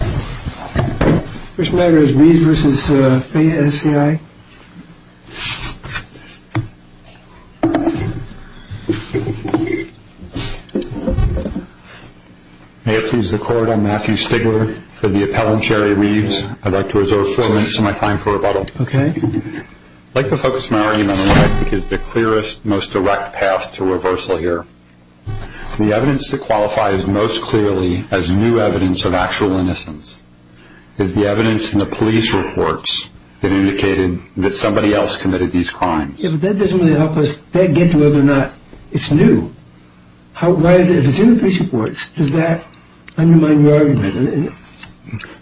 May it please the Court, I'm Matthew Stigler for the Appellant, Jerry Reeves. I'd like to reserve four minutes of my time for rebuttal. I'd like to focus my argument on what I think is the clearest, most direct path to reversal here. The evidence that qualifies most clearly as new evidence of actual innocence is the evidence in the police reports that indicated that somebody else committed these crimes. Yeah, but that doesn't really help us get to whether or not it's new. If it's in the police reports, does that undermine your argument?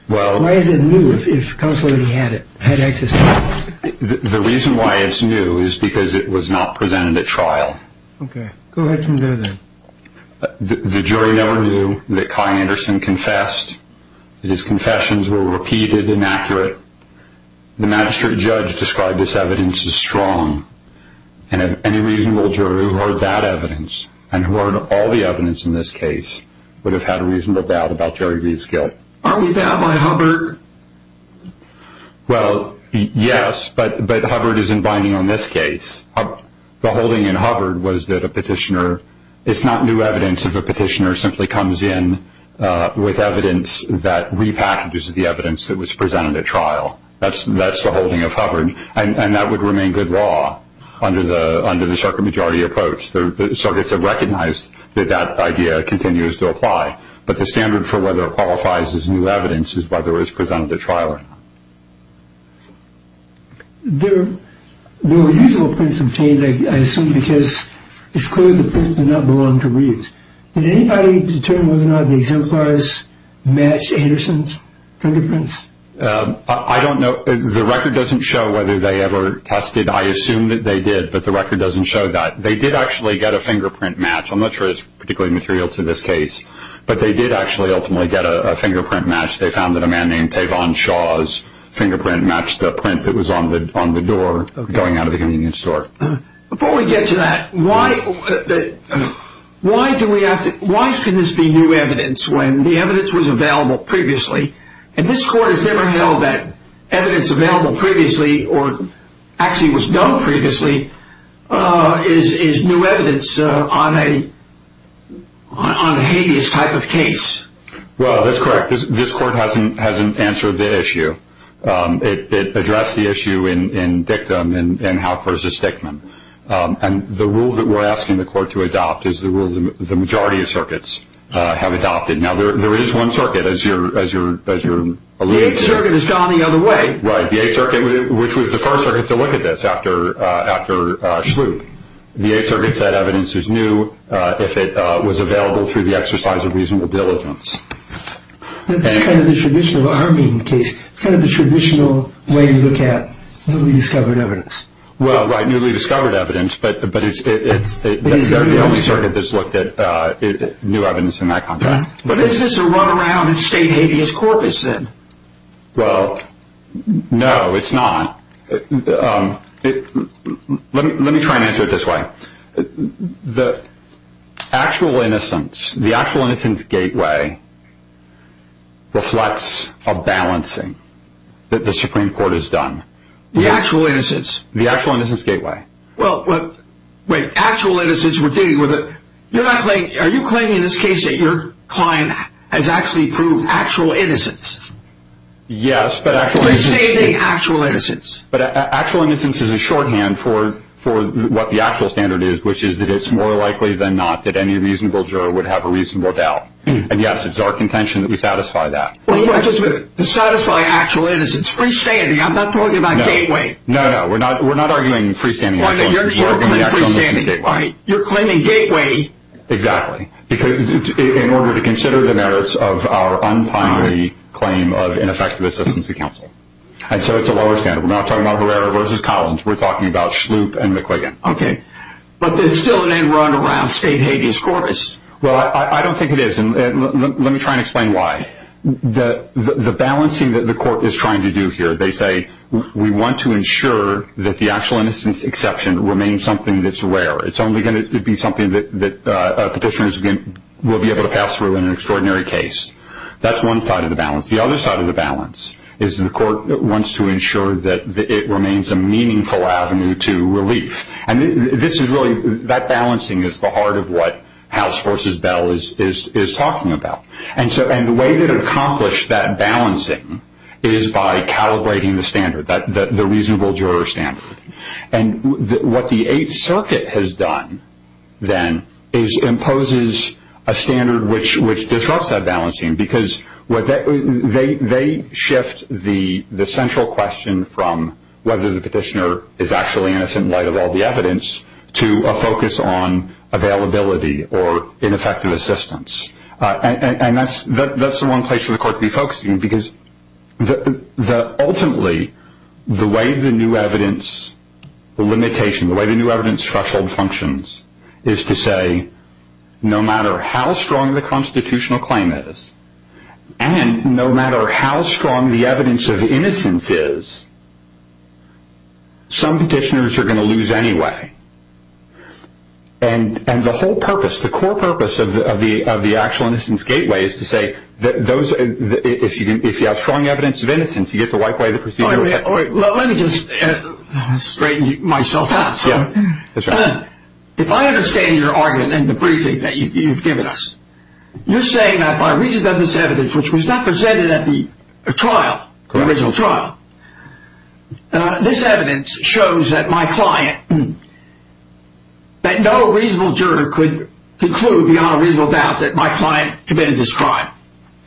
Why is it new if counsel already had access to it? The reason why it's new is because it was not presented at trial. Okay, go ahead from there then. The jury never knew that Kai Anderson confessed, that his confessions were repeated and accurate. The magistrate judge described this evidence as strong, and any reasonable jury who heard that evidence and heard all the evidence in this case would have had a reasonable doubt about Jerry Reeves' guilt. Aren't we bound by Hubbard? Well, yes, but Hubbard isn't binding on this case. The holding in Hubbard was that it's not new evidence if a petitioner simply comes in with evidence that repackages the evidence that was presented at trial. That's the holding of Hubbard, and that would remain good law under the circuit majority approach. The circuits have recognized that that idea continues to apply, but the standard for whether it qualifies as new evidence is whether it was presented at trial or not. There were usable prints obtained, I assume, because it's clear the prints did not belong to Reeves. Did anybody determine whether or not the exemplars matched Anderson's printer prints? I don't know. The record doesn't show whether they ever tested. I assume that they did, but the record doesn't show that. They did actually get a fingerprint match. I'm not sure it's particularly material to this case, but they did actually ultimately get a fingerprint match. They found that a man named Tavon Shaw's fingerprint matched the print that was on the door going out of the convenience store. Before we get to that, why should this be new evidence when the evidence was available previously? This court has never held that evidence available previously or actually was known previously is new evidence on a habeas type of case. That's correct. This court hasn't answered the issue. It addressed the issue in Dictum and Haupt v. Stickman. The rule that we're asking the court to adopt is the rule the majority of circuits have adopted. Now, there is one circuit, as you're alluding to. The Eighth Circuit has gone the other way. Right. The Eighth Circuit, which was the first circuit to look at this after Schlup, the Eighth Circuit said evidence is new if it was available through the exercise of reasonable diligence. That's kind of the traditional way you look at newly discovered evidence. Well, right, newly discovered evidence, but it's the only circuit that's looked at new evidence in that context. Is this a run around in state habeas corpus, then? Well, no, it's not. Let me try and answer it this way. The actual innocence, the actual innocence gateway, reflects a balancing that the Supreme Court has done. The actual innocence? The actual innocence gateway. Well, wait, actual innocence, are you claiming in this case that your client has actually proved actual innocence? Yes, but actual innocence is a shorthand for what the actual standard is, which is that it's more likely than not that any reasonable juror would have a reasonable doubt. And, yes, it's our contention that we satisfy that. To satisfy actual innocence, freestanding, I'm not talking about gateway. No, no, we're not arguing freestanding. You're claiming gateway. Exactly, in order to consider the merits of our untimely claim of ineffective assistance to counsel. And so it's a lower standard. We're not talking about Barrera versus Collins. We're talking about Shloop and McQuiggan. Okay, but there's still an end run around state habeas corpus. Well, I don't think it is, and let me try and explain why. The balancing that the court is trying to do here, they say, we want to ensure that the actual innocence exception remains something that's rare. It's only going to be something that petitioners will be able to pass through in an extraordinary case. That's one side of the balance. The other side of the balance is the court wants to ensure that it remains a meaningful avenue to relief. And this is really, that balancing is the heart of what House v. Bell is talking about. And the way to accomplish that balancing is by calibrating the standard, the reasonable juror standard. And what the Eighth Circuit has done, then, is imposes a standard which disrupts that balancing, because they shift the central question from whether the petitioner is actually innocent in light of all the evidence to a focus on availability or ineffective assistance. And that's the one place for the court to be focusing, because ultimately the way the new evidence limitation, the way the new evidence threshold functions is to say, no matter how strong the constitutional claim is, and no matter how strong the evidence of innocence is, some petitioners are going to lose anyway. And the whole purpose, the core purpose of the Actual Innocence Gateway is to say, if you have strong evidence of innocence, you get to wipe away the procedure. Let me just straighten myself out. If I understand your argument in the briefing that you've given us, you're saying that by reason of this evidence, which was not presented at the trial, the original trial, this evidence shows that my client, that no reasonable juror could conclude beyond a reasonable doubt that my client committed this crime.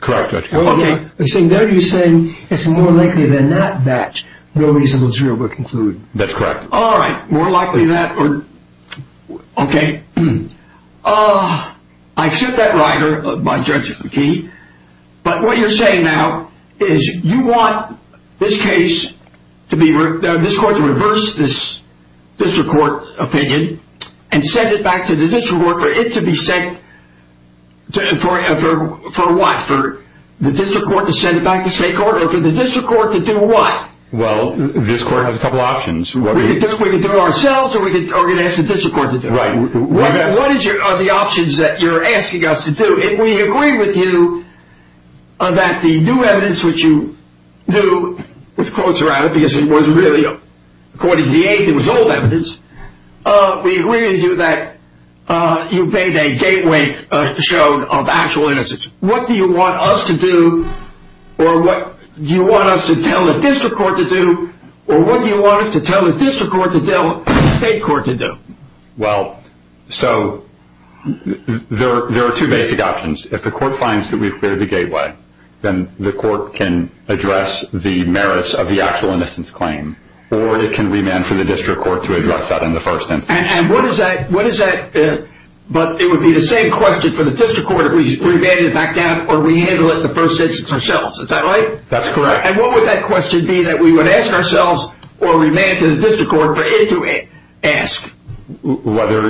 Correct, Judge. Okay. No, you're saying it's more likely than that that no reasonable juror would conclude. That's correct. All right. More likely than that. Okay. I accept that rider by Judge McKee. But what you're saying now is you want this case, this court to reverse this district court opinion and send it back to the district court for it to be sent for what? For the district court to send it back to state court? Or for the district court to do what? Well, this court has a couple options. We can do it ourselves or we can ask the district court to do it. Right. What are the options that you're asking us to do? If we agree with you that the new evidence, which you do with quotes around it because it was really, according to the age, it was old evidence, we agree with you that you've made a gateway show of actual innocence. What do you want us to do or what do you want us to tell the district court to do or what do you want us to tell the district court to tell the state court to do? Well, so there are two basic options. If the court finds that we've cleared the gateway, then the court can address the merits of the actual innocence claim or it can remand for the district court to address that in the first instance. And what is that, but it would be the same question for the district court if we remanded it back down or we handle it in the first instance ourselves. Is that right? That's correct. And what would that question be that we would ask ourselves or remand to the district court for it to ask? Whether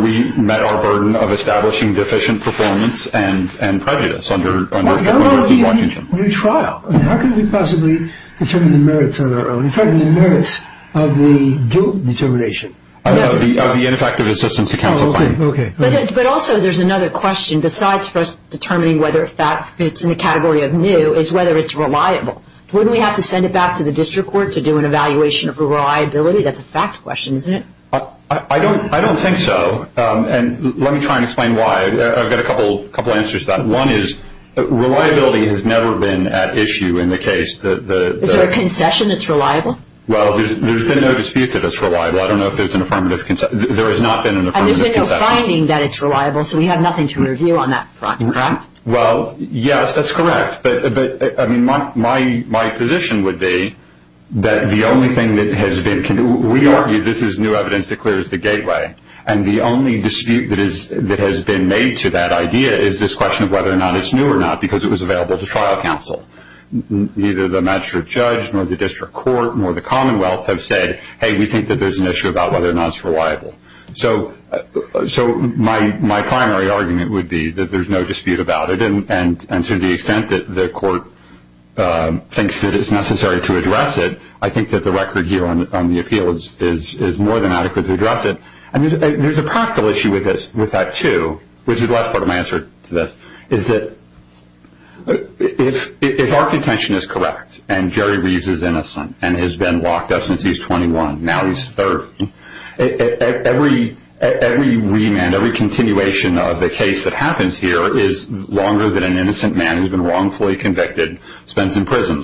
we met our burden of establishing deficient performance and prejudice under Washington. How can we possibly determine the merits on our own? In fact, the merits of the due determination. Of the ineffective assistance to counsel claim. But also there's another question besides first determining whether a fact fits in the category of new is whether it's reliable. Wouldn't we have to send it back to the district court to do an evaluation of reliability? That's a fact question, isn't it? I don't think so. And let me try and explain why. I've got a couple answers to that. One is reliability has never been at issue in the case. Is there a concession that's reliable? Well, there's been no dispute that it's reliable. I don't know if there's an affirmative concession. There has not been an affirmative concession. And there's been no finding that it's reliable, so we have nothing to review on that front, correct? Well, yes, that's correct. But, I mean, my position would be that the only thing that has been we argue this is new evidence that clears the gateway. And the only dispute that has been made to that idea is this question of whether or not it's new or not because it was available to trial counsel. Neither the magistrate judge nor the district court nor the commonwealth have said, hey, we think that there's an issue about whether or not it's reliable. So my primary argument would be that there's no dispute about it. And to the extent that the court thinks that it's necessary to address it, I think that the record here on the appeal is more than adequate to address it. And there's a practical issue with that, too, which is the last part of my answer to this, is that if our contention is correct and Jerry Reeves is innocent and has been locked up since he was 21, now he's 30, every remand, every continuation of the case that happens here is longer than an innocent man who's been wrongfully convicted spends in prison.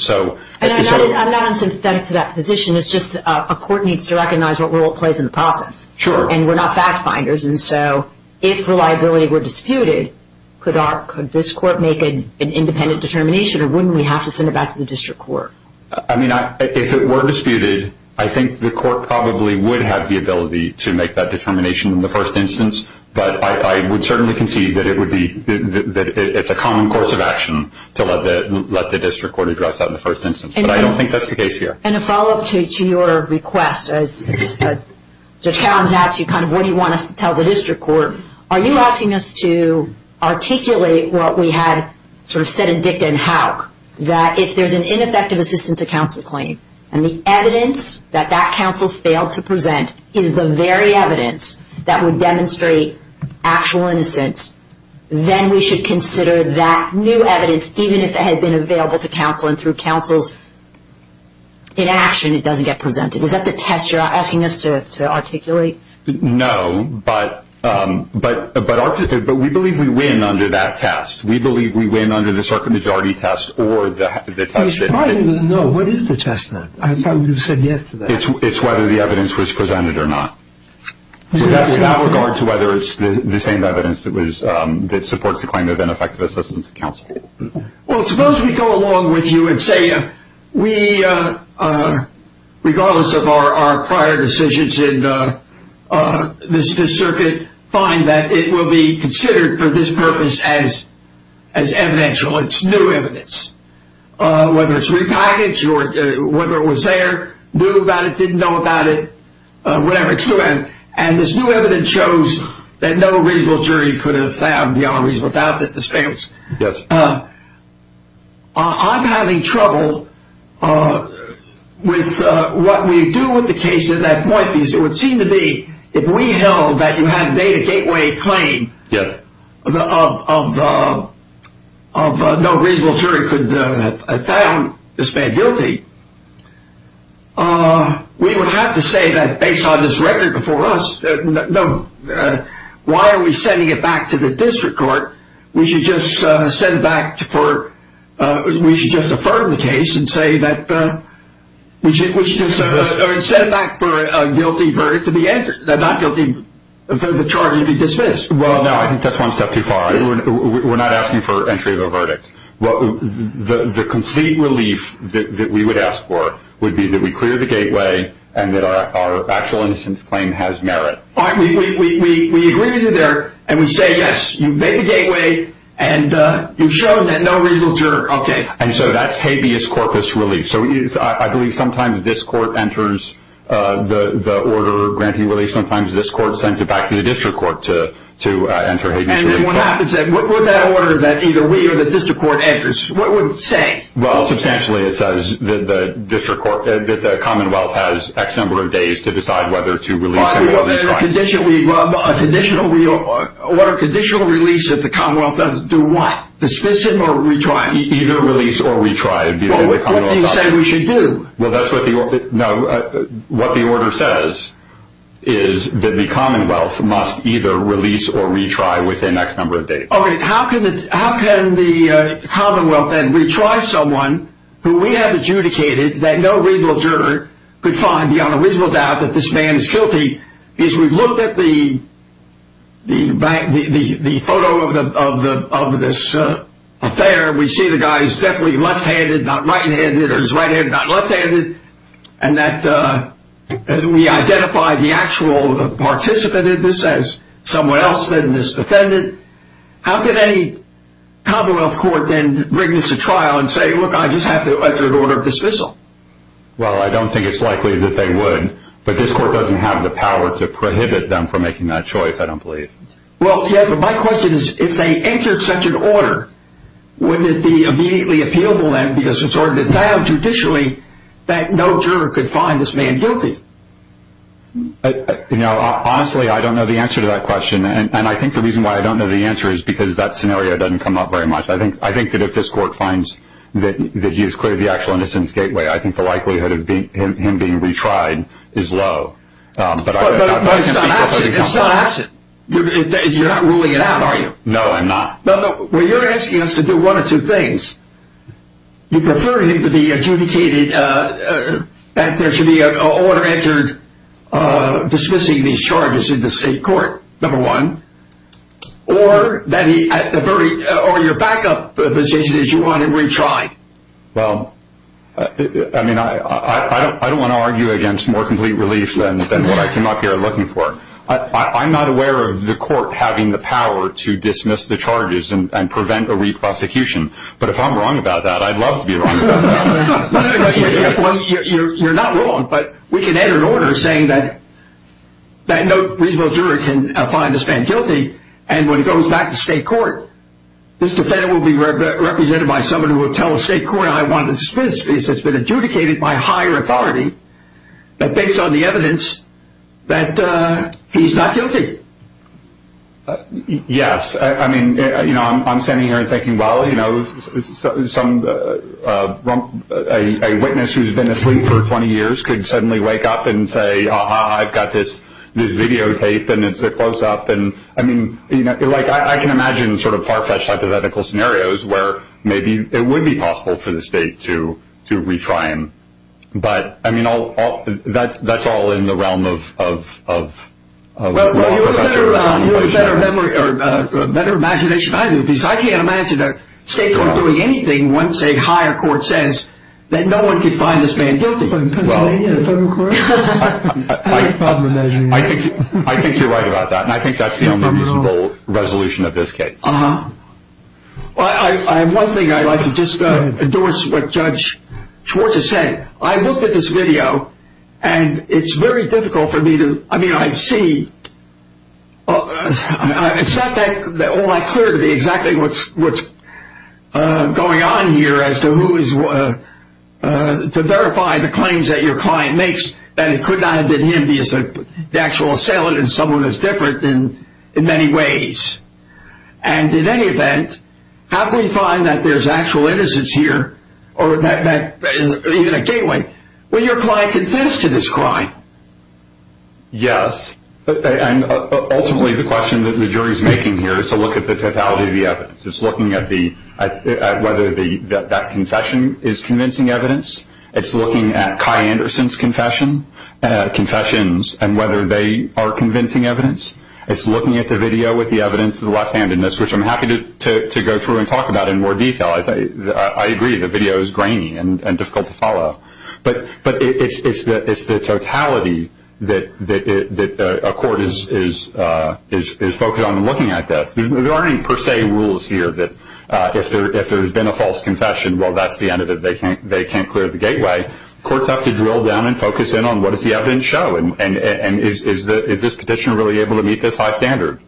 And I'm not in some contempt to that position. It's just a court needs to recognize what role it plays in the process. Sure. And we're not fact finders. And so if reliability were disputed, could this court make an independent determination, or wouldn't we have to send it back to the district court? I mean, if it were disputed, I think the court probably would have the ability to make that determination in the first instance. But I would certainly concede that it's a common course of action to let the district court address that in the first instance. But I don't think that's the case here. And a follow-up to your request, as Judge Cowen has asked you, kind of what do you want us to tell the district court? Are you asking us to articulate what we had sort of said in Dicta and Houck, that if there's an ineffective assistance to counsel claim, and the evidence that that counsel failed to present is the very evidence that would demonstrate actual innocence, then we should consider that new evidence, even if it had been available to counsel and through counsel's inaction, it doesn't get presented. Is that the test you're asking us to articulate? No, but we believe we win under that test. We believe we win under the circuit majority test or the test that – No, what is the test then? I thought you said yes to that. It's whether the evidence was presented or not. That's without regard to whether it's the same evidence that supports the claim of ineffective assistance to counsel. Well, suppose we go along with you and say we, regardless of our prior decisions in this circuit, find that it will be considered for this purpose as evidential. It's new evidence, whether it's repackaged or whether it was there, knew about it, didn't know about it, whatever. And this new evidence shows that no reasonable jury could have found beyond reasonable doubt that this man was guilty. Yes. I'm having trouble with what we do with the case at that point, because it would seem to be if we held that you had made a gateway claim of no reasonable jury could have found this man guilty, we would have to say that based on this record before us, no. Why are we sending it back to the district court? We should just send it back for – we should just affirm the case and say that – we should just send it back for a guilty verdict to be – not guilty, for the charge to be dismissed. Well, no, I think that's one step too far. We're not asking for entry of a verdict. The complete relief that we would ask for would be that we clear the gateway and that our actual innocence claim has merit. All right. We agree with you there, and we say, yes, you've made the gateway, and you've shown that no reasonable jury. Okay. And so that's habeas corpus relief. So I believe sometimes this court enters the order granting relief. Sometimes this court sends it back to the district court to enter habeas. What happens then? What would that order that either we or the district court enters, what would it say? Well, substantially it says that the district court – that the commonwealth has X number of days to decide whether to release him or retry him. A conditional – what are conditional reliefs that the commonwealth does? Do what? Dismiss him or retry him? Either release or retry. Well, what do you say we should do? Well, that's what the – no, what the order says is that the commonwealth must either release or retry within X number of days. Okay. How can the commonwealth then retry someone who we have adjudicated that no reasonable juror could find beyond a reasonable doubt that this man is guilty? As we look at the photo of this affair, we see the guy is definitely left-handed, not right-handed, or is right-handed, not left-handed, and that we identify the actual participant in this as someone else than this defendant. How can any commonwealth court then bring this to trial and say, look, I just have to enter an order of dismissal? Well, I don't think it's likely that they would, but this court doesn't have the power to prohibit them from making that choice, I don't believe. Well, yeah, but my question is if they entered such an order, wouldn't it be immediately appealable then because it's already been found judicially that no juror could find this man guilty? You know, honestly, I don't know the answer to that question, and I think the reason why I don't know the answer is because that scenario doesn't come up very much. I think that if this court finds that he is clearly the actual innocence gateway, I think the likelihood of him being retried is low. But it's not action. You're not ruling it out, are you? No, I'm not. Well, you're asking us to do one of two things. You prefer him to be adjudicated and there should be an order entered dismissing these charges in the state court, number one, or your backup position is you want him retried. Well, I mean, I don't want to argue against more complete relief than what I came up here looking for. I'm not aware of the court having the power to dismiss the charges and prevent a re-prosecution, but if I'm wrong about that, I'd love to be wrong about that. Well, you're not wrong, but we can enter an order saying that no reasonable juror can find this man guilty, and when it goes back to state court, this defendant will be represented by someone who will tell the state court, I want to dismiss this case that's been adjudicated by higher authority based on the evidence that he's not guilty. Yes. I mean, you know, I'm standing here thinking, well, you know, a witness who's been asleep for 20 years could suddenly wake up and say, ah-ha, I've got this videotape and it's a close-up, and I mean, like, I can imagine sort of far-fetched hypothetical scenarios where maybe it would be possible for the state to retry him. But, I mean, that's all in the realm of law. You have a better memory or a better imagination than I do, because I can't imagine a state court doing anything once a higher court says that no one can find this man guilty. Well, I think you're right about that, and I think that's the only reasonable resolution of this case. Uh-huh. Well, one thing I'd like to just endorse what Judge Schwartz has said. I looked at this video, and it's very difficult for me to – I mean, I see – it's not all that clear to me exactly what's going on here as to who is – to verify the claims that your client makes that it could not have been him, because the actual assailant is someone who's different in many ways. And in any event, how can we find that there's actual innocence here or that – even a gateway when your client confessed to this crime? Yes. And ultimately, the question that the jury's making here is to look at the totality of the evidence. It's looking at the – at whether that confession is convincing evidence. It's looking at Kai Anderson's confession, confessions, and whether they are convincing evidence. It's looking at the video with the evidence of the left-handedness, which I'm happy to go through and talk about in more detail. I agree the video is grainy and difficult to follow. But it's the totality that a court is focused on in looking at this. There aren't any per se rules here that if there's been a false confession, well, that's the end of it. They can't clear the gateway. Courts have to drill down and focus in on what does the evidence show, and is this petitioner really able to meet this high standard?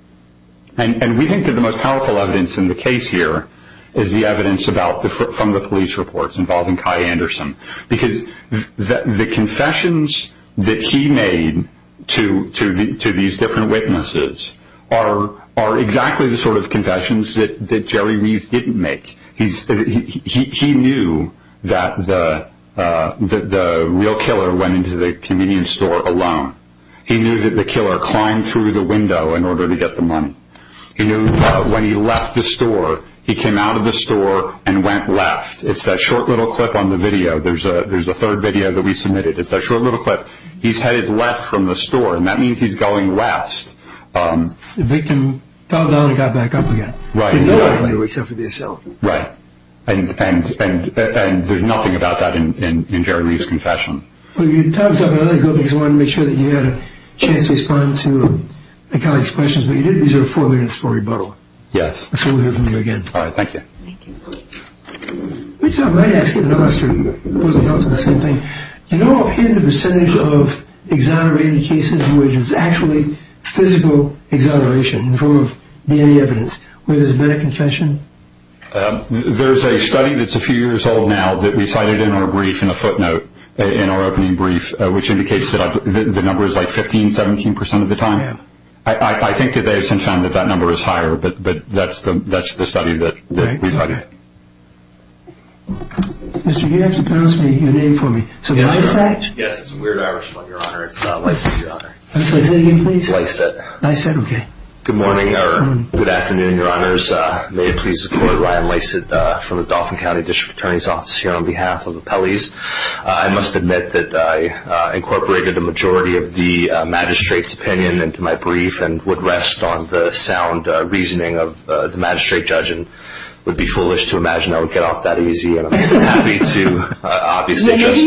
And we think that the most powerful evidence in the case here is the evidence from the police reports involving Kai Anderson because the confessions that he made to these different witnesses are exactly the sort of confessions that Jerry Reeves didn't make. He knew that the real killer went into the convenience store alone. He knew that the killer climbed through the window in order to get the money. He knew when he left the store, he came out of the store and went left. It's that short little clip on the video. There's a third video that we submitted. It's that short little clip. He's headed left from the store, and that means he's going west. The victim fell down and got back up again. Right. And there's nothing about that in Jerry Reeves' confession. Well, your time is up. I'm going to let you go because I wanted to make sure that you had a chance to respond to a colleague's questions. But you did reserve four minutes for rebuttal. Yes. So we'll hear from you again. All right. Thank you. I might ask you another question. It wasn't about the same thing. Do you know offhand the percentage of exonerated cases in which it's actually physical exoneration in the form of DNA evidence where there's been a confession? There's a study that's a few years old now that we cited in our brief, in a footnote, in our opening brief, which indicates that the number is like 15%, 17% of the time. I think that they have since found that that number is higher, but that's the study that we cited. All right. Mr. Gibbs, pronounce your name for me. Is it Lysak? Yes, it's a weird Irish name, Your Honor. It's not Lysak, Your Honor. Say it again, please. Lysak. Lysak, okay. Good morning or good afternoon, Your Honors. May it please the Court, Ryan Lysak from the Dauphin County District Attorney's Office here on behalf of the appellees. I must admit that I incorporated a majority of the magistrate's opinion into my brief and would rest on the sound reasoning of the magistrate judge and would be foolish to imagine I would get off that easy. I'm happy to obviously just ---- Is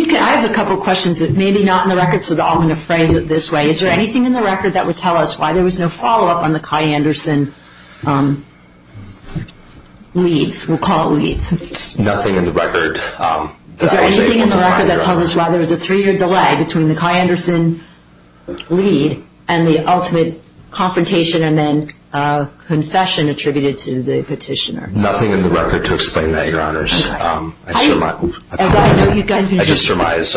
there anything in the record that would tell us why there was no follow-up on the Kai Anderson leads? We'll call it leads. Nothing in the record that I was able to find, Your Honor. Is there anything in the record that tells us why there was a three-year delay between the Kai Anderson lead and the ultimate confrontation and then confession attributed to the petitioner? Nothing in the record to explain that, Your Honors. I just surmise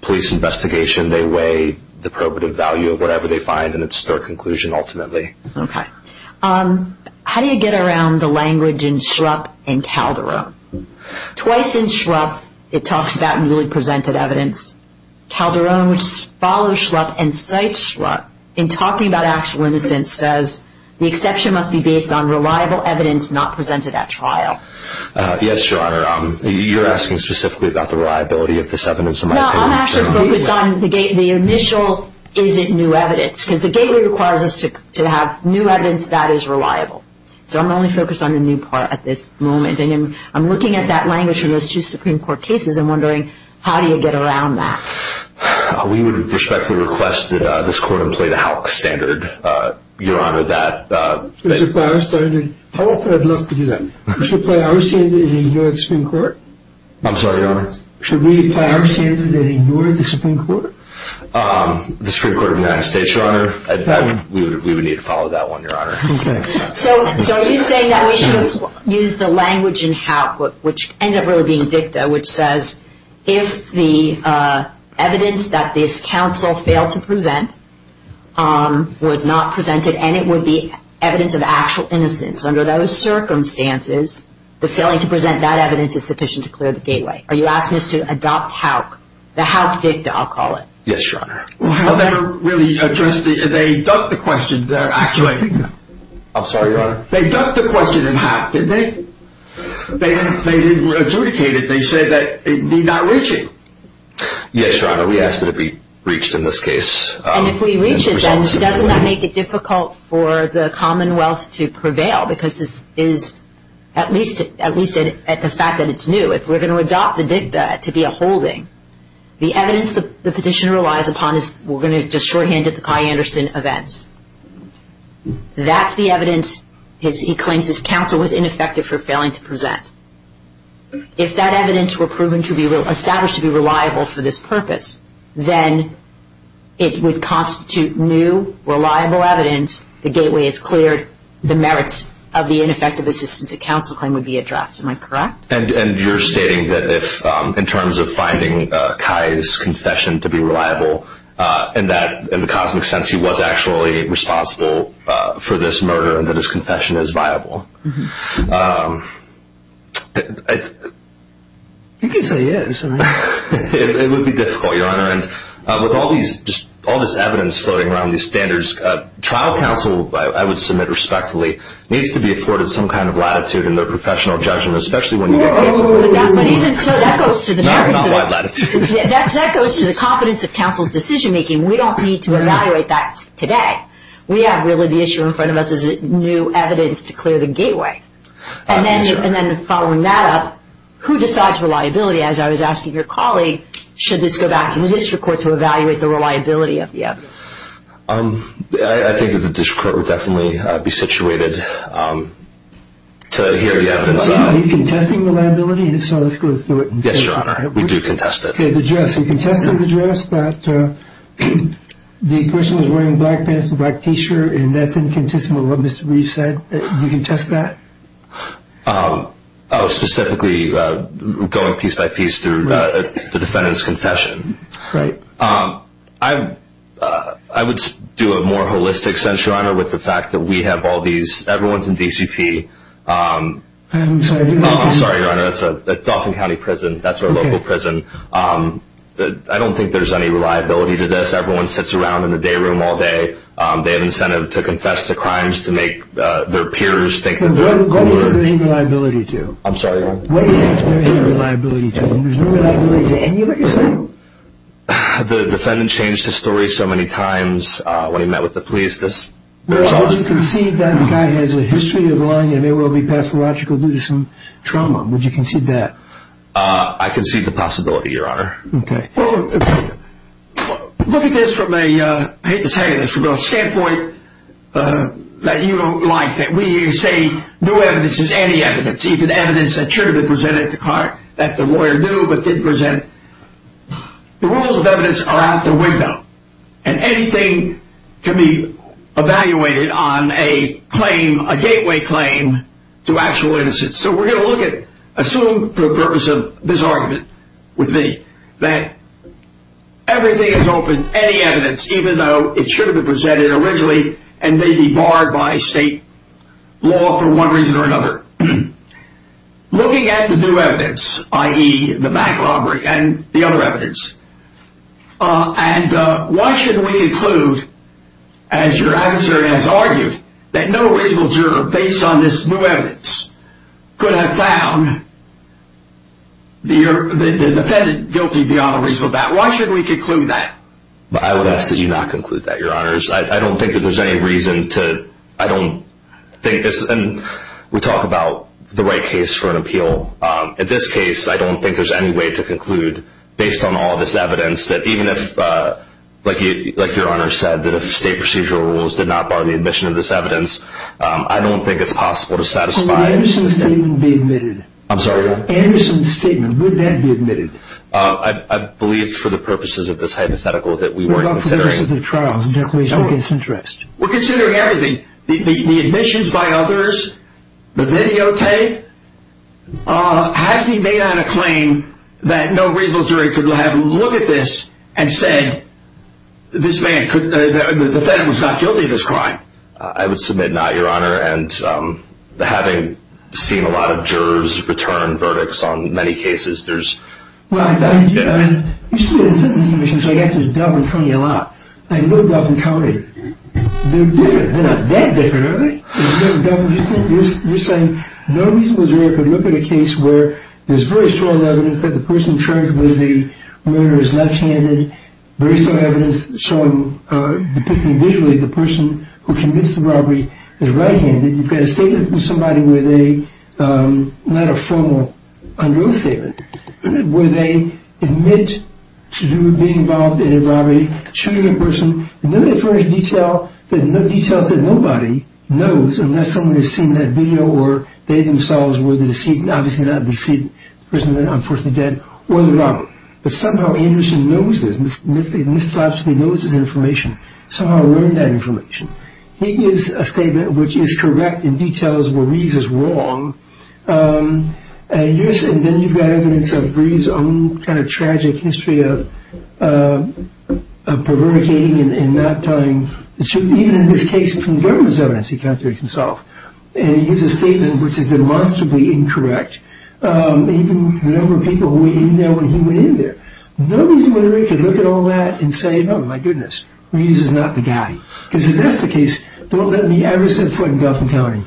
police investigation. They weigh the probative value of whatever they find and it's their conclusion ultimately. Okay. How do you get around the language in Shrupp and Calderon? Twice in Shrupp, it talks about newly presented evidence. Calderon, which follows Shrupp and cites Shrupp in talking about actual innocence, says the exception must be based on reliable evidence not presented at trial. Yes, Your Honor. You're asking specifically about the reliability of this evidence in my opinion. No, I'm actually focused on the initial is it new evidence because the gateway requires us to have new evidence that is reliable. So I'm only focused on the new part at this moment. I'm looking at that language from those two Supreme Court cases and wondering how do you get around that? We would respectfully request that this Court employ the HALC standard, Your Honor. How often I'd love to do that. We should play our standard in the U.S. Supreme Court. I'm sorry, Your Honor. Should we play our standard and ignore the Supreme Court? The Supreme Court of the United States, Your Honor. We would need to follow that one, Your Honor. Okay. So are you saying that we should use the language in HALC which ends up really being dicta, which says if the evidence that this counsel failed to present was not presented and it would be evidence of actual innocence under those circumstances, the failing to present that evidence is sufficient to clear the gateway. Are you asking us to adopt HALC? The HALC dicta, I'll call it. Yes, Your Honor. Well, HALC never really addressed the question. They ducked the question there, actually. I'm sorry, Your Honor. They ducked the question in HALC, didn't they? They didn't adjudicate it. They said that it need not reach it. Yes, Your Honor. We ask that it be reached in this case. And if we reach it, doesn't that make it difficult for the Commonwealth to prevail because this is at least at the fact that it's new. If we're going to adopt the dicta to be a holding, the evidence the petition relies upon is we're going to just shorthand it, the Kai Anderson events. That's the evidence he claims his counsel was ineffective for failing to present. If that evidence were established to be reliable for this purpose, then it would constitute new, reliable evidence, the gateway is cleared, the merits of the ineffective assistance of counsel claim would be addressed. Am I correct? And you're stating that in terms of finding Kai's confession to be reliable, in the cosmic sense he was actually responsible for this murder and that his confession is viable. You can say yes. It would be difficult, Your Honor. With all this evidence floating around, these standards, trial counsel, I would submit respectfully, needs to be afforded some kind of latitude in their professional judgment, especially when you get to the point where it's not wide latitude. That goes to the confidence of counsel's decision-making. We don't need to evaluate that today. We have really the issue in front of us is new evidence to clear the gateway. And then following that up, who decides reliability, as I was asking your colleague, should this go back to the district court to evaluate the reliability of the evidence? I think that the district court would definitely be situated to hear the evidence. Are you contesting the reliability? Yes, Your Honor. We do contest it. Okay, the dress. You contested the dress, but the person was wearing black pants and a black T-shirt, and that's inconsistent with what Mr. Breach said. Do you contest that? Specifically going piece by piece through the defendant's confession. Right. I would do a more holistic sense, Your Honor, with the fact that we have all these, everyone's in DCP. I'm sorry. I'm sorry, Your Honor. That's a Dauphin County prison. That's our local prison. I don't think there's any reliability to this. Everyone sits around in the day room all day. They have incentive to confess to crimes to make their peers think that they're worth it. What is there any reliability to? I'm sorry, Your Honor. What is there any reliability to? There's no reliability to any of it you're saying? The defendant changed his story so many times when he met with the police. Would you concede that the guy has a history of lying and may well be pathological due to some trauma? Would you concede that? I concede the possibility, Your Honor. Okay. Look at this from a, I hate to tell you this, from a standpoint that you don't like, that we say no evidence is any evidence. It's even evidence that should have been presented at the court that the lawyer knew but didn't present. The rules of evidence are out the window, and anything can be evaluated on a claim, a gateway claim to actual innocence. So we're going to look at, assume for the purpose of this argument with me, that everything is open, any evidence, even though it should have been presented originally and may be barred by state law for one reason or another. Looking at the new evidence, i.e. the bank robbery and the other evidence, and why should we conclude, as your adversary has argued, that no reasonable juror based on this new evidence could have found the defendant guilty beyond a reasonable doubt? Why should we conclude that? I would ask that you not conclude that, Your Honors. I don't think that there's any reason to, I don't think this, and we talk about the right case for an appeal. In this case, I don't think there's any way to conclude, based on all this evidence, that even if, like Your Honors said, that if state procedural rules did not bar the admission of this evidence, I don't think it's possible to satisfy. Would the Anderson statement be admitted? I'm sorry? Anderson's statement, would that be admitted? I believe for the purposes of this hypothetical that we weren't considering. For the purposes of trials and declarations of case interest. We're considering everything. The admissions by others, the videotape, has to be made on a claim that no reasonable jury could have looked at this and said, this man could, the defendant was not guilty of this crime. I would submit not, Your Honor, and having seen a lot of jurors return verdicts on many cases, there's... I mean, you see the sentencing commission, so I got to Dufferin County a lot. I know Dufferin County. They're different. They're not that different, are they? Dufferin, you're saying no reasonable jury could look at a case where there's very strong evidence that the person charged with the murder is left-handed, very strong evidence depicting visually the person who committed the robbery is right-handed. You've got a statement from somebody where they, not a formal under oath statement, where they admit to being involved in a robbery, choose a person, and then they furnish details that nobody knows unless someone has seen that video or they themselves were the deceit, obviously not the deceit person, unfortunately dead, or the robber. But somehow Anderson knows this. Mr. Lapsley knows this information. Somehow learned that information. He gives a statement which is correct in details where Reeves is wrong, and then you've got evidence of Reeves' own kind of tragic history of perverticating and not telling the truth, even in this case from the government's evidence, he can't do it himself. And he gives a statement which is demonstrably incorrect, even to the number of people who were in there when he went in there. Nobody in the jury could look at all that and say, oh, my goodness, Reeves is not the guy. Because if that's the case, don't let me ever set foot in Dufferin County.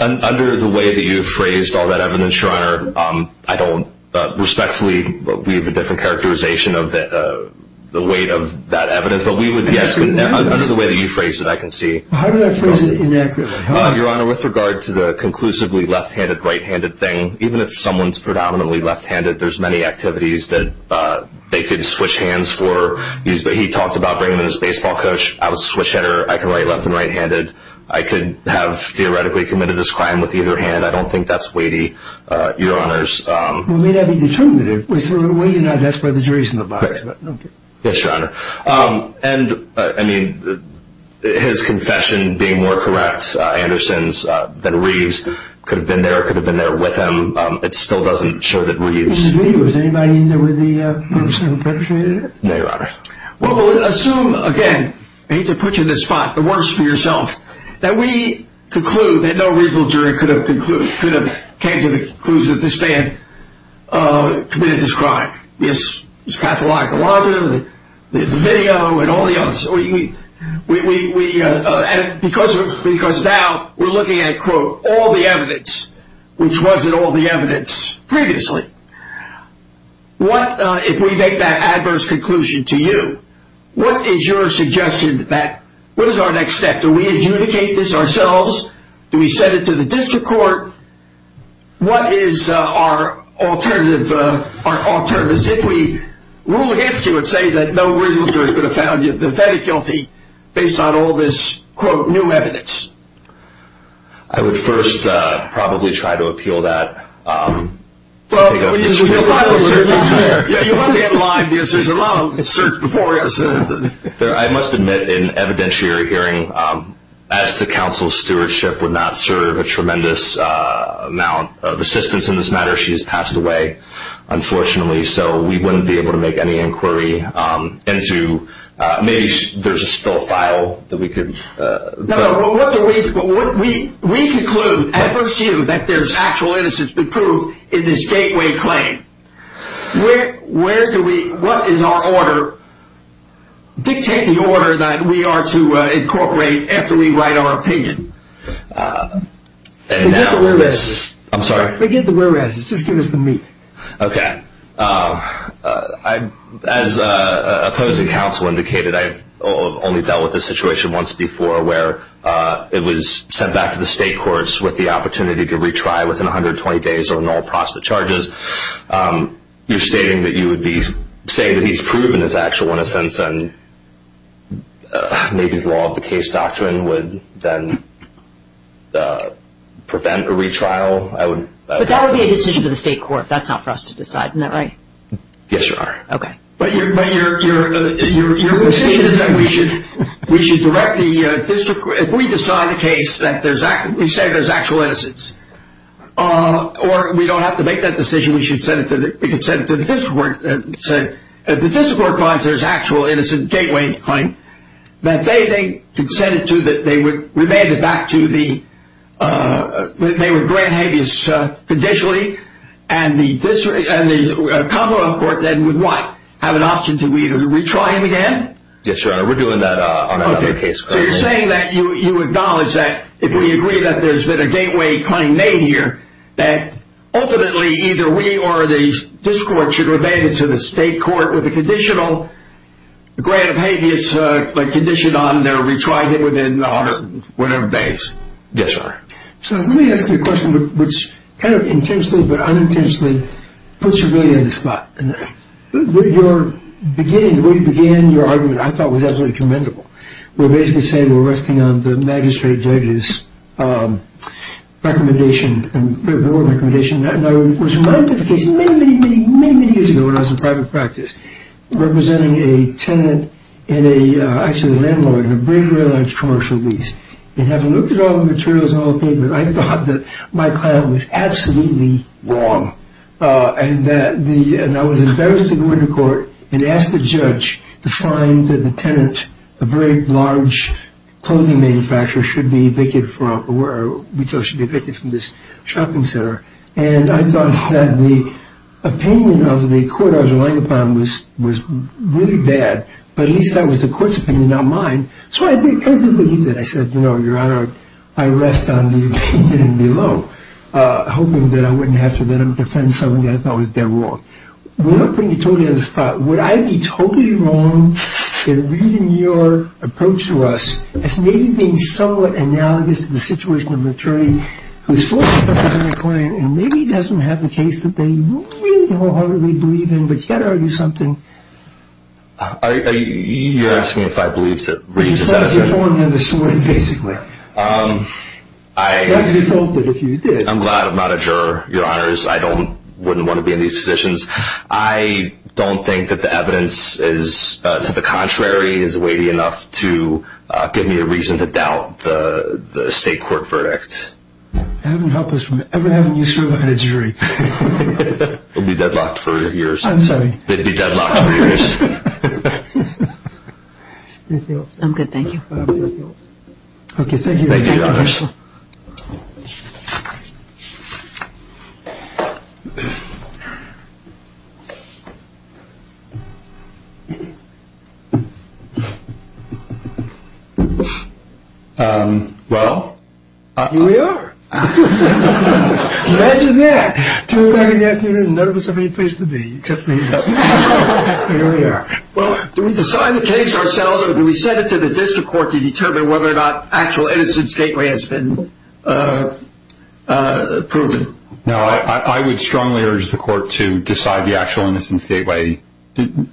Under the way that you've phrased all that evidence, Your Honor, I don't respectfully believe the different characterization of the weight of that evidence, but we would guess that's the way that you phrased it, I can see. How did I phrase it inaccurately? Your Honor, with regard to the conclusively left-handed, right-handed thing, even if someone's predominantly left-handed, there's many activities that they could switch hands for. He talked about bringing in his baseball coach. I was a switch-hitter. I can write left and right-handed. I could have theoretically committed this crime with either hand. I don't think that's weighty, Your Honors. Well, it may not be determinative. With weight, you know, that's where the jury's in the box. Right. Yes, Your Honor. And, I mean, his confession being more correct, Anderson's, than Reeves, could have been there or could have been there with him. It still doesn't show that Reeves. Was anybody in there with the person who perpetrated it? No, Your Honor. Well, assume, again, I hate to put you in this spot, the worst for yourself, that we conclude that no reasonable jury could have came to the conclusion that this man committed this crime. His pathological argument, the video, and all the others. Because now we're looking at, quote, all the evidence, which wasn't all the evidence previously. What, if we make that adverse conclusion to you, what is your suggestion that, what is our next step? Do we adjudicate this ourselves? Do we send it to the district court? What is our alternative? Our alternative is if we rule against you and say that no reasonable jury could have found the defendant guilty based on all this, quote, new evidence. I would first probably try to appeal that. Well, you have to be in line, because there's a lot of research before us. I must admit, in evidentiary hearing, as to counsel's stewardship, would not serve a tremendous amount of assistance in this matter. She has passed away, unfortunately, so we wouldn't be able to make any inquiry into, maybe there's still a file that we could. No, no. What do we, we conclude, adverse you, that there's actual innocence to prove in this gateway claim. Where do we, what is our order? Dictate the order that we are to incorporate after we write our opinion. Forget the whereas. I'm sorry? Forget the whereas. Just give us the me. Okay. As opposing counsel indicated, I've only dealt with this situation once before, where it was sent back to the state courts with the opportunity to retry within 120 days or null process charges. You're stating that you would be saying that he's proven his actual innocence and maybe the law of the case doctrine would then prevent a retrial. But that would be a decision for the state court. That's not for us to decide. Isn't that right? Yes, Your Honor. Okay. But your position is that we should direct the district court, if we decide the case that we say there's actual innocence, or we don't have to make that decision, we should send it to the district court and say if the district court finds there's actual innocent gateway claim, that they could send it to that they would remand it back to the grant habeas conditionally and the Commonwealth Court then would what? Have an option to either retry him again? Yes, Your Honor. We're doing that on another case. Okay. So you're saying that you acknowledge that if we agree that there's been a gateway claim made here, that ultimately either we or the district court should remand it to the state court with a conditional grant of habeas condition on their retrying it within whatever days? Yes, Your Honor. So let me ask you a question which kind of intensely but unintentionally puts you really in the spot. Your beginning, the way you began your argument I thought was absolutely commendable. We're basically saying we're resting on the magistrate judge's recommendation, and I was reminded of a case many, many, many, many years ago when I was in private practice representing a tenant and actually a landlord in a very, very large commercial lease. And having looked at all the materials and all the papers, I thought that my client was absolutely wrong and I was embarrassed to go into court and ask the judge to find that the tenant, a very large clothing manufacturer, should be evicted from this shopping center. And I thought that the opinion of the court I was relying upon was really bad, but at least that was the court's opinion, not mine. So I completely believed it. I said, you know, Your Honor, I rest on the opinion below, hoping that I wouldn't have to let him defend something that I thought was dead wrong. We're not putting you totally on the spot. Would I be totally wrong in reading your approach to us as maybe being somewhat analogous to the situation of an attorney who is falsely representing a client and maybe doesn't have the case that they really wholeheartedly believe in? But you've got to argue something. You're asking if I believe that Reed just said it. You're pulling him in this way, basically. I'm glad I'm not a juror, Your Honors. I wouldn't want to be in these positions. I don't think that the evidence is to the contrary, is weighty enough to give me a reason to doubt the state court verdict. That would help us from ever having you serve as a jury. It would be deadlocked for years. I'm sorry. It would be deadlocked for years. Anything else? Okay, thank you. Thank you, Your Honors. Thank you. Well? Here we are. Imagine that. Two o'clock in the afternoon, none of us have any place to be except for you. Here we are. Do we decide the case ourselves or do we send it to the district court to determine whether or not actual innocence gateway has been proven? No, I would strongly urge the court to decide the actual innocence gateway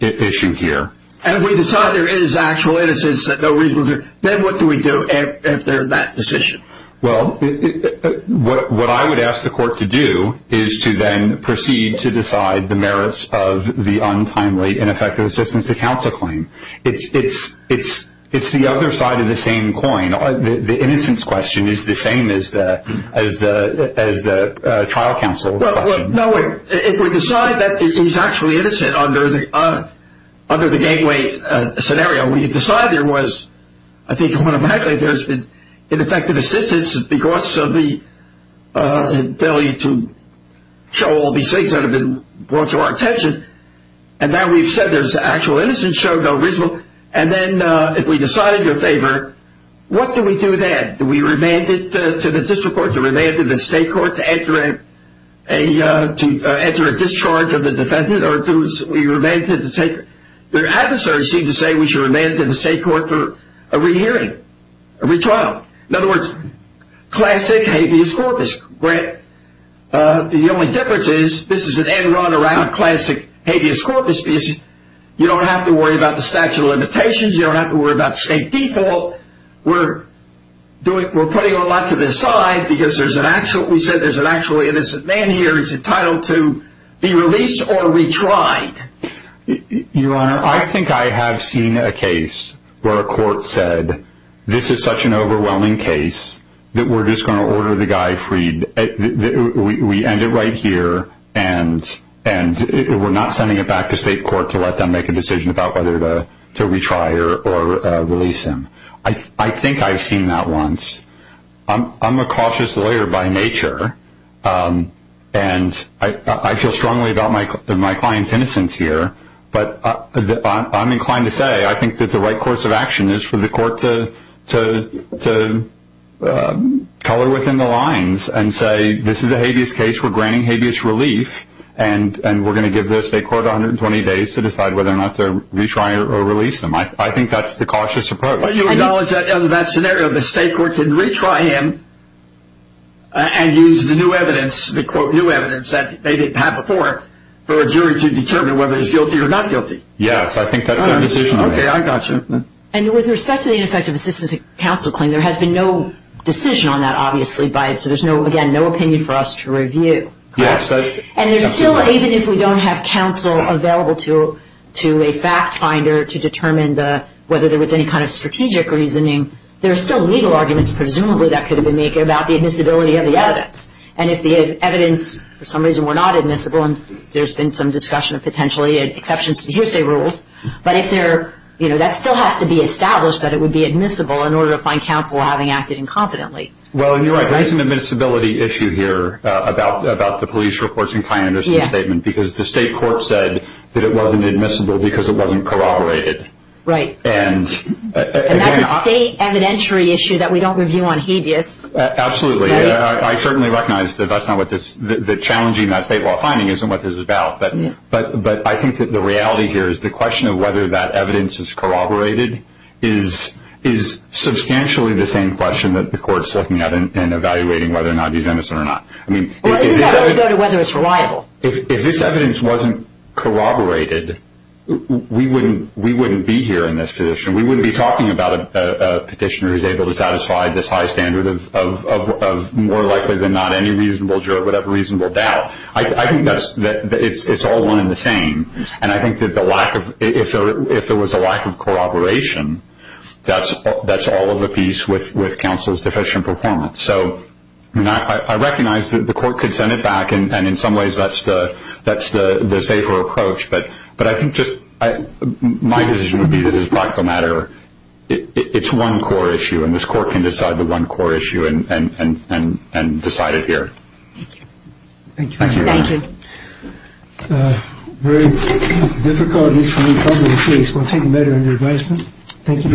issue here. And if we decide there is actual innocence, then what do we do after that decision? Well, what I would ask the court to do is to then proceed to decide the merits of the untimely ineffective assistance to counsel claim. It's the other side of the same coin. The innocence question is the same as the trial counsel question. No, if we decide that he's actually innocent under the gateway scenario, we decide there was, I think, automatically there's been ineffective assistance because of the failure to show all these things that have been brought to our attention. And now we've said there's actual innocence, show no reason. And then if we decide in your favor, what do we do then? Do we remand it to the district court, to remand it to the state court to enter a discharge of the defendant? Or do we remand it to the state court? Their adversaries seem to say we should remand it to the state court for a rehearing, a retrial. In other words, classic habeas corpus. The only difference is this is an en run around classic habeas corpus because you don't have to worry about the statute of limitations. You don't have to worry about state default. We're putting a lot to the side because we said there's an actually innocent man here who's entitled to be released or retried. Your Honor, I think I have seen a case where a court said this is such an overwhelming case that we're just going to order the guy freed. We end it right here and we're not sending it back to state court to let them make a decision about whether to retry or release him. I think I've seen that once. I'm a cautious lawyer by nature, and I feel strongly about my client's innocence here. But I'm inclined to say I think that the right course of action is for the court to color within the lines and say this is a habeas case. We're granting habeas relief, and we're going to give the state court 120 days to decide whether or not to retry or release him. I think that's the cautious approach. But you acknowledge that in that scenario the state court can retry him and use the new evidence, the new evidence that they didn't have before, for a jury to determine whether he's guilty or not guilty. Yes, I think that's their decision. Okay, I got you. And with respect to the ineffective assistance of counsel claim, there has been no decision on that, obviously, so there's, again, no opinion for us to review. Yes. And there's still, even if we don't have counsel available to a fact finder to determine whether there was any kind of strategic reasoning, there are still legal arguments presumably that could have been made about the admissibility of the evidence. And if the evidence for some reason were not admissible, and there's been some discussion of potentially exceptions to the hearsay rules, but that still has to be established that it would be admissible in order to find counsel having acted incompetently. Well, you're right. There is an admissibility issue here about the police reports and Kyan Anderson's statement because the state court said that it wasn't admissible because it wasn't corroborated. Right. And that's a state evidentiary issue that we don't review on habeas. Absolutely. I certainly recognize that challenging that state law finding isn't what this is about. But I think that the reality here is the question of whether that evidence is corroborated is substantially the same question that the court's looking at in evaluating whether or not he's innocent or not. Well, it doesn't really go to whether it's reliable. If this evidence wasn't corroborated, we wouldn't be here in this position. We wouldn't be talking about a petitioner who's able to satisfy this high standard of more likely than not any reasonable juror would have a reasonable doubt. I think that it's all one and the same. And I think that if there was a lack of corroboration, that's all of the piece with counsel's deficient performance. So I recognize that the court could send it back, and in some ways that's the safer approach. But I think just my decision would be that as a practical matter, it's one core issue, and this court can decide the one core issue and decide it here. Thank you. Thank you very much. Thank you. Very difficult and extremely troubling case. We'll take the matter under advisement. Thank you very much.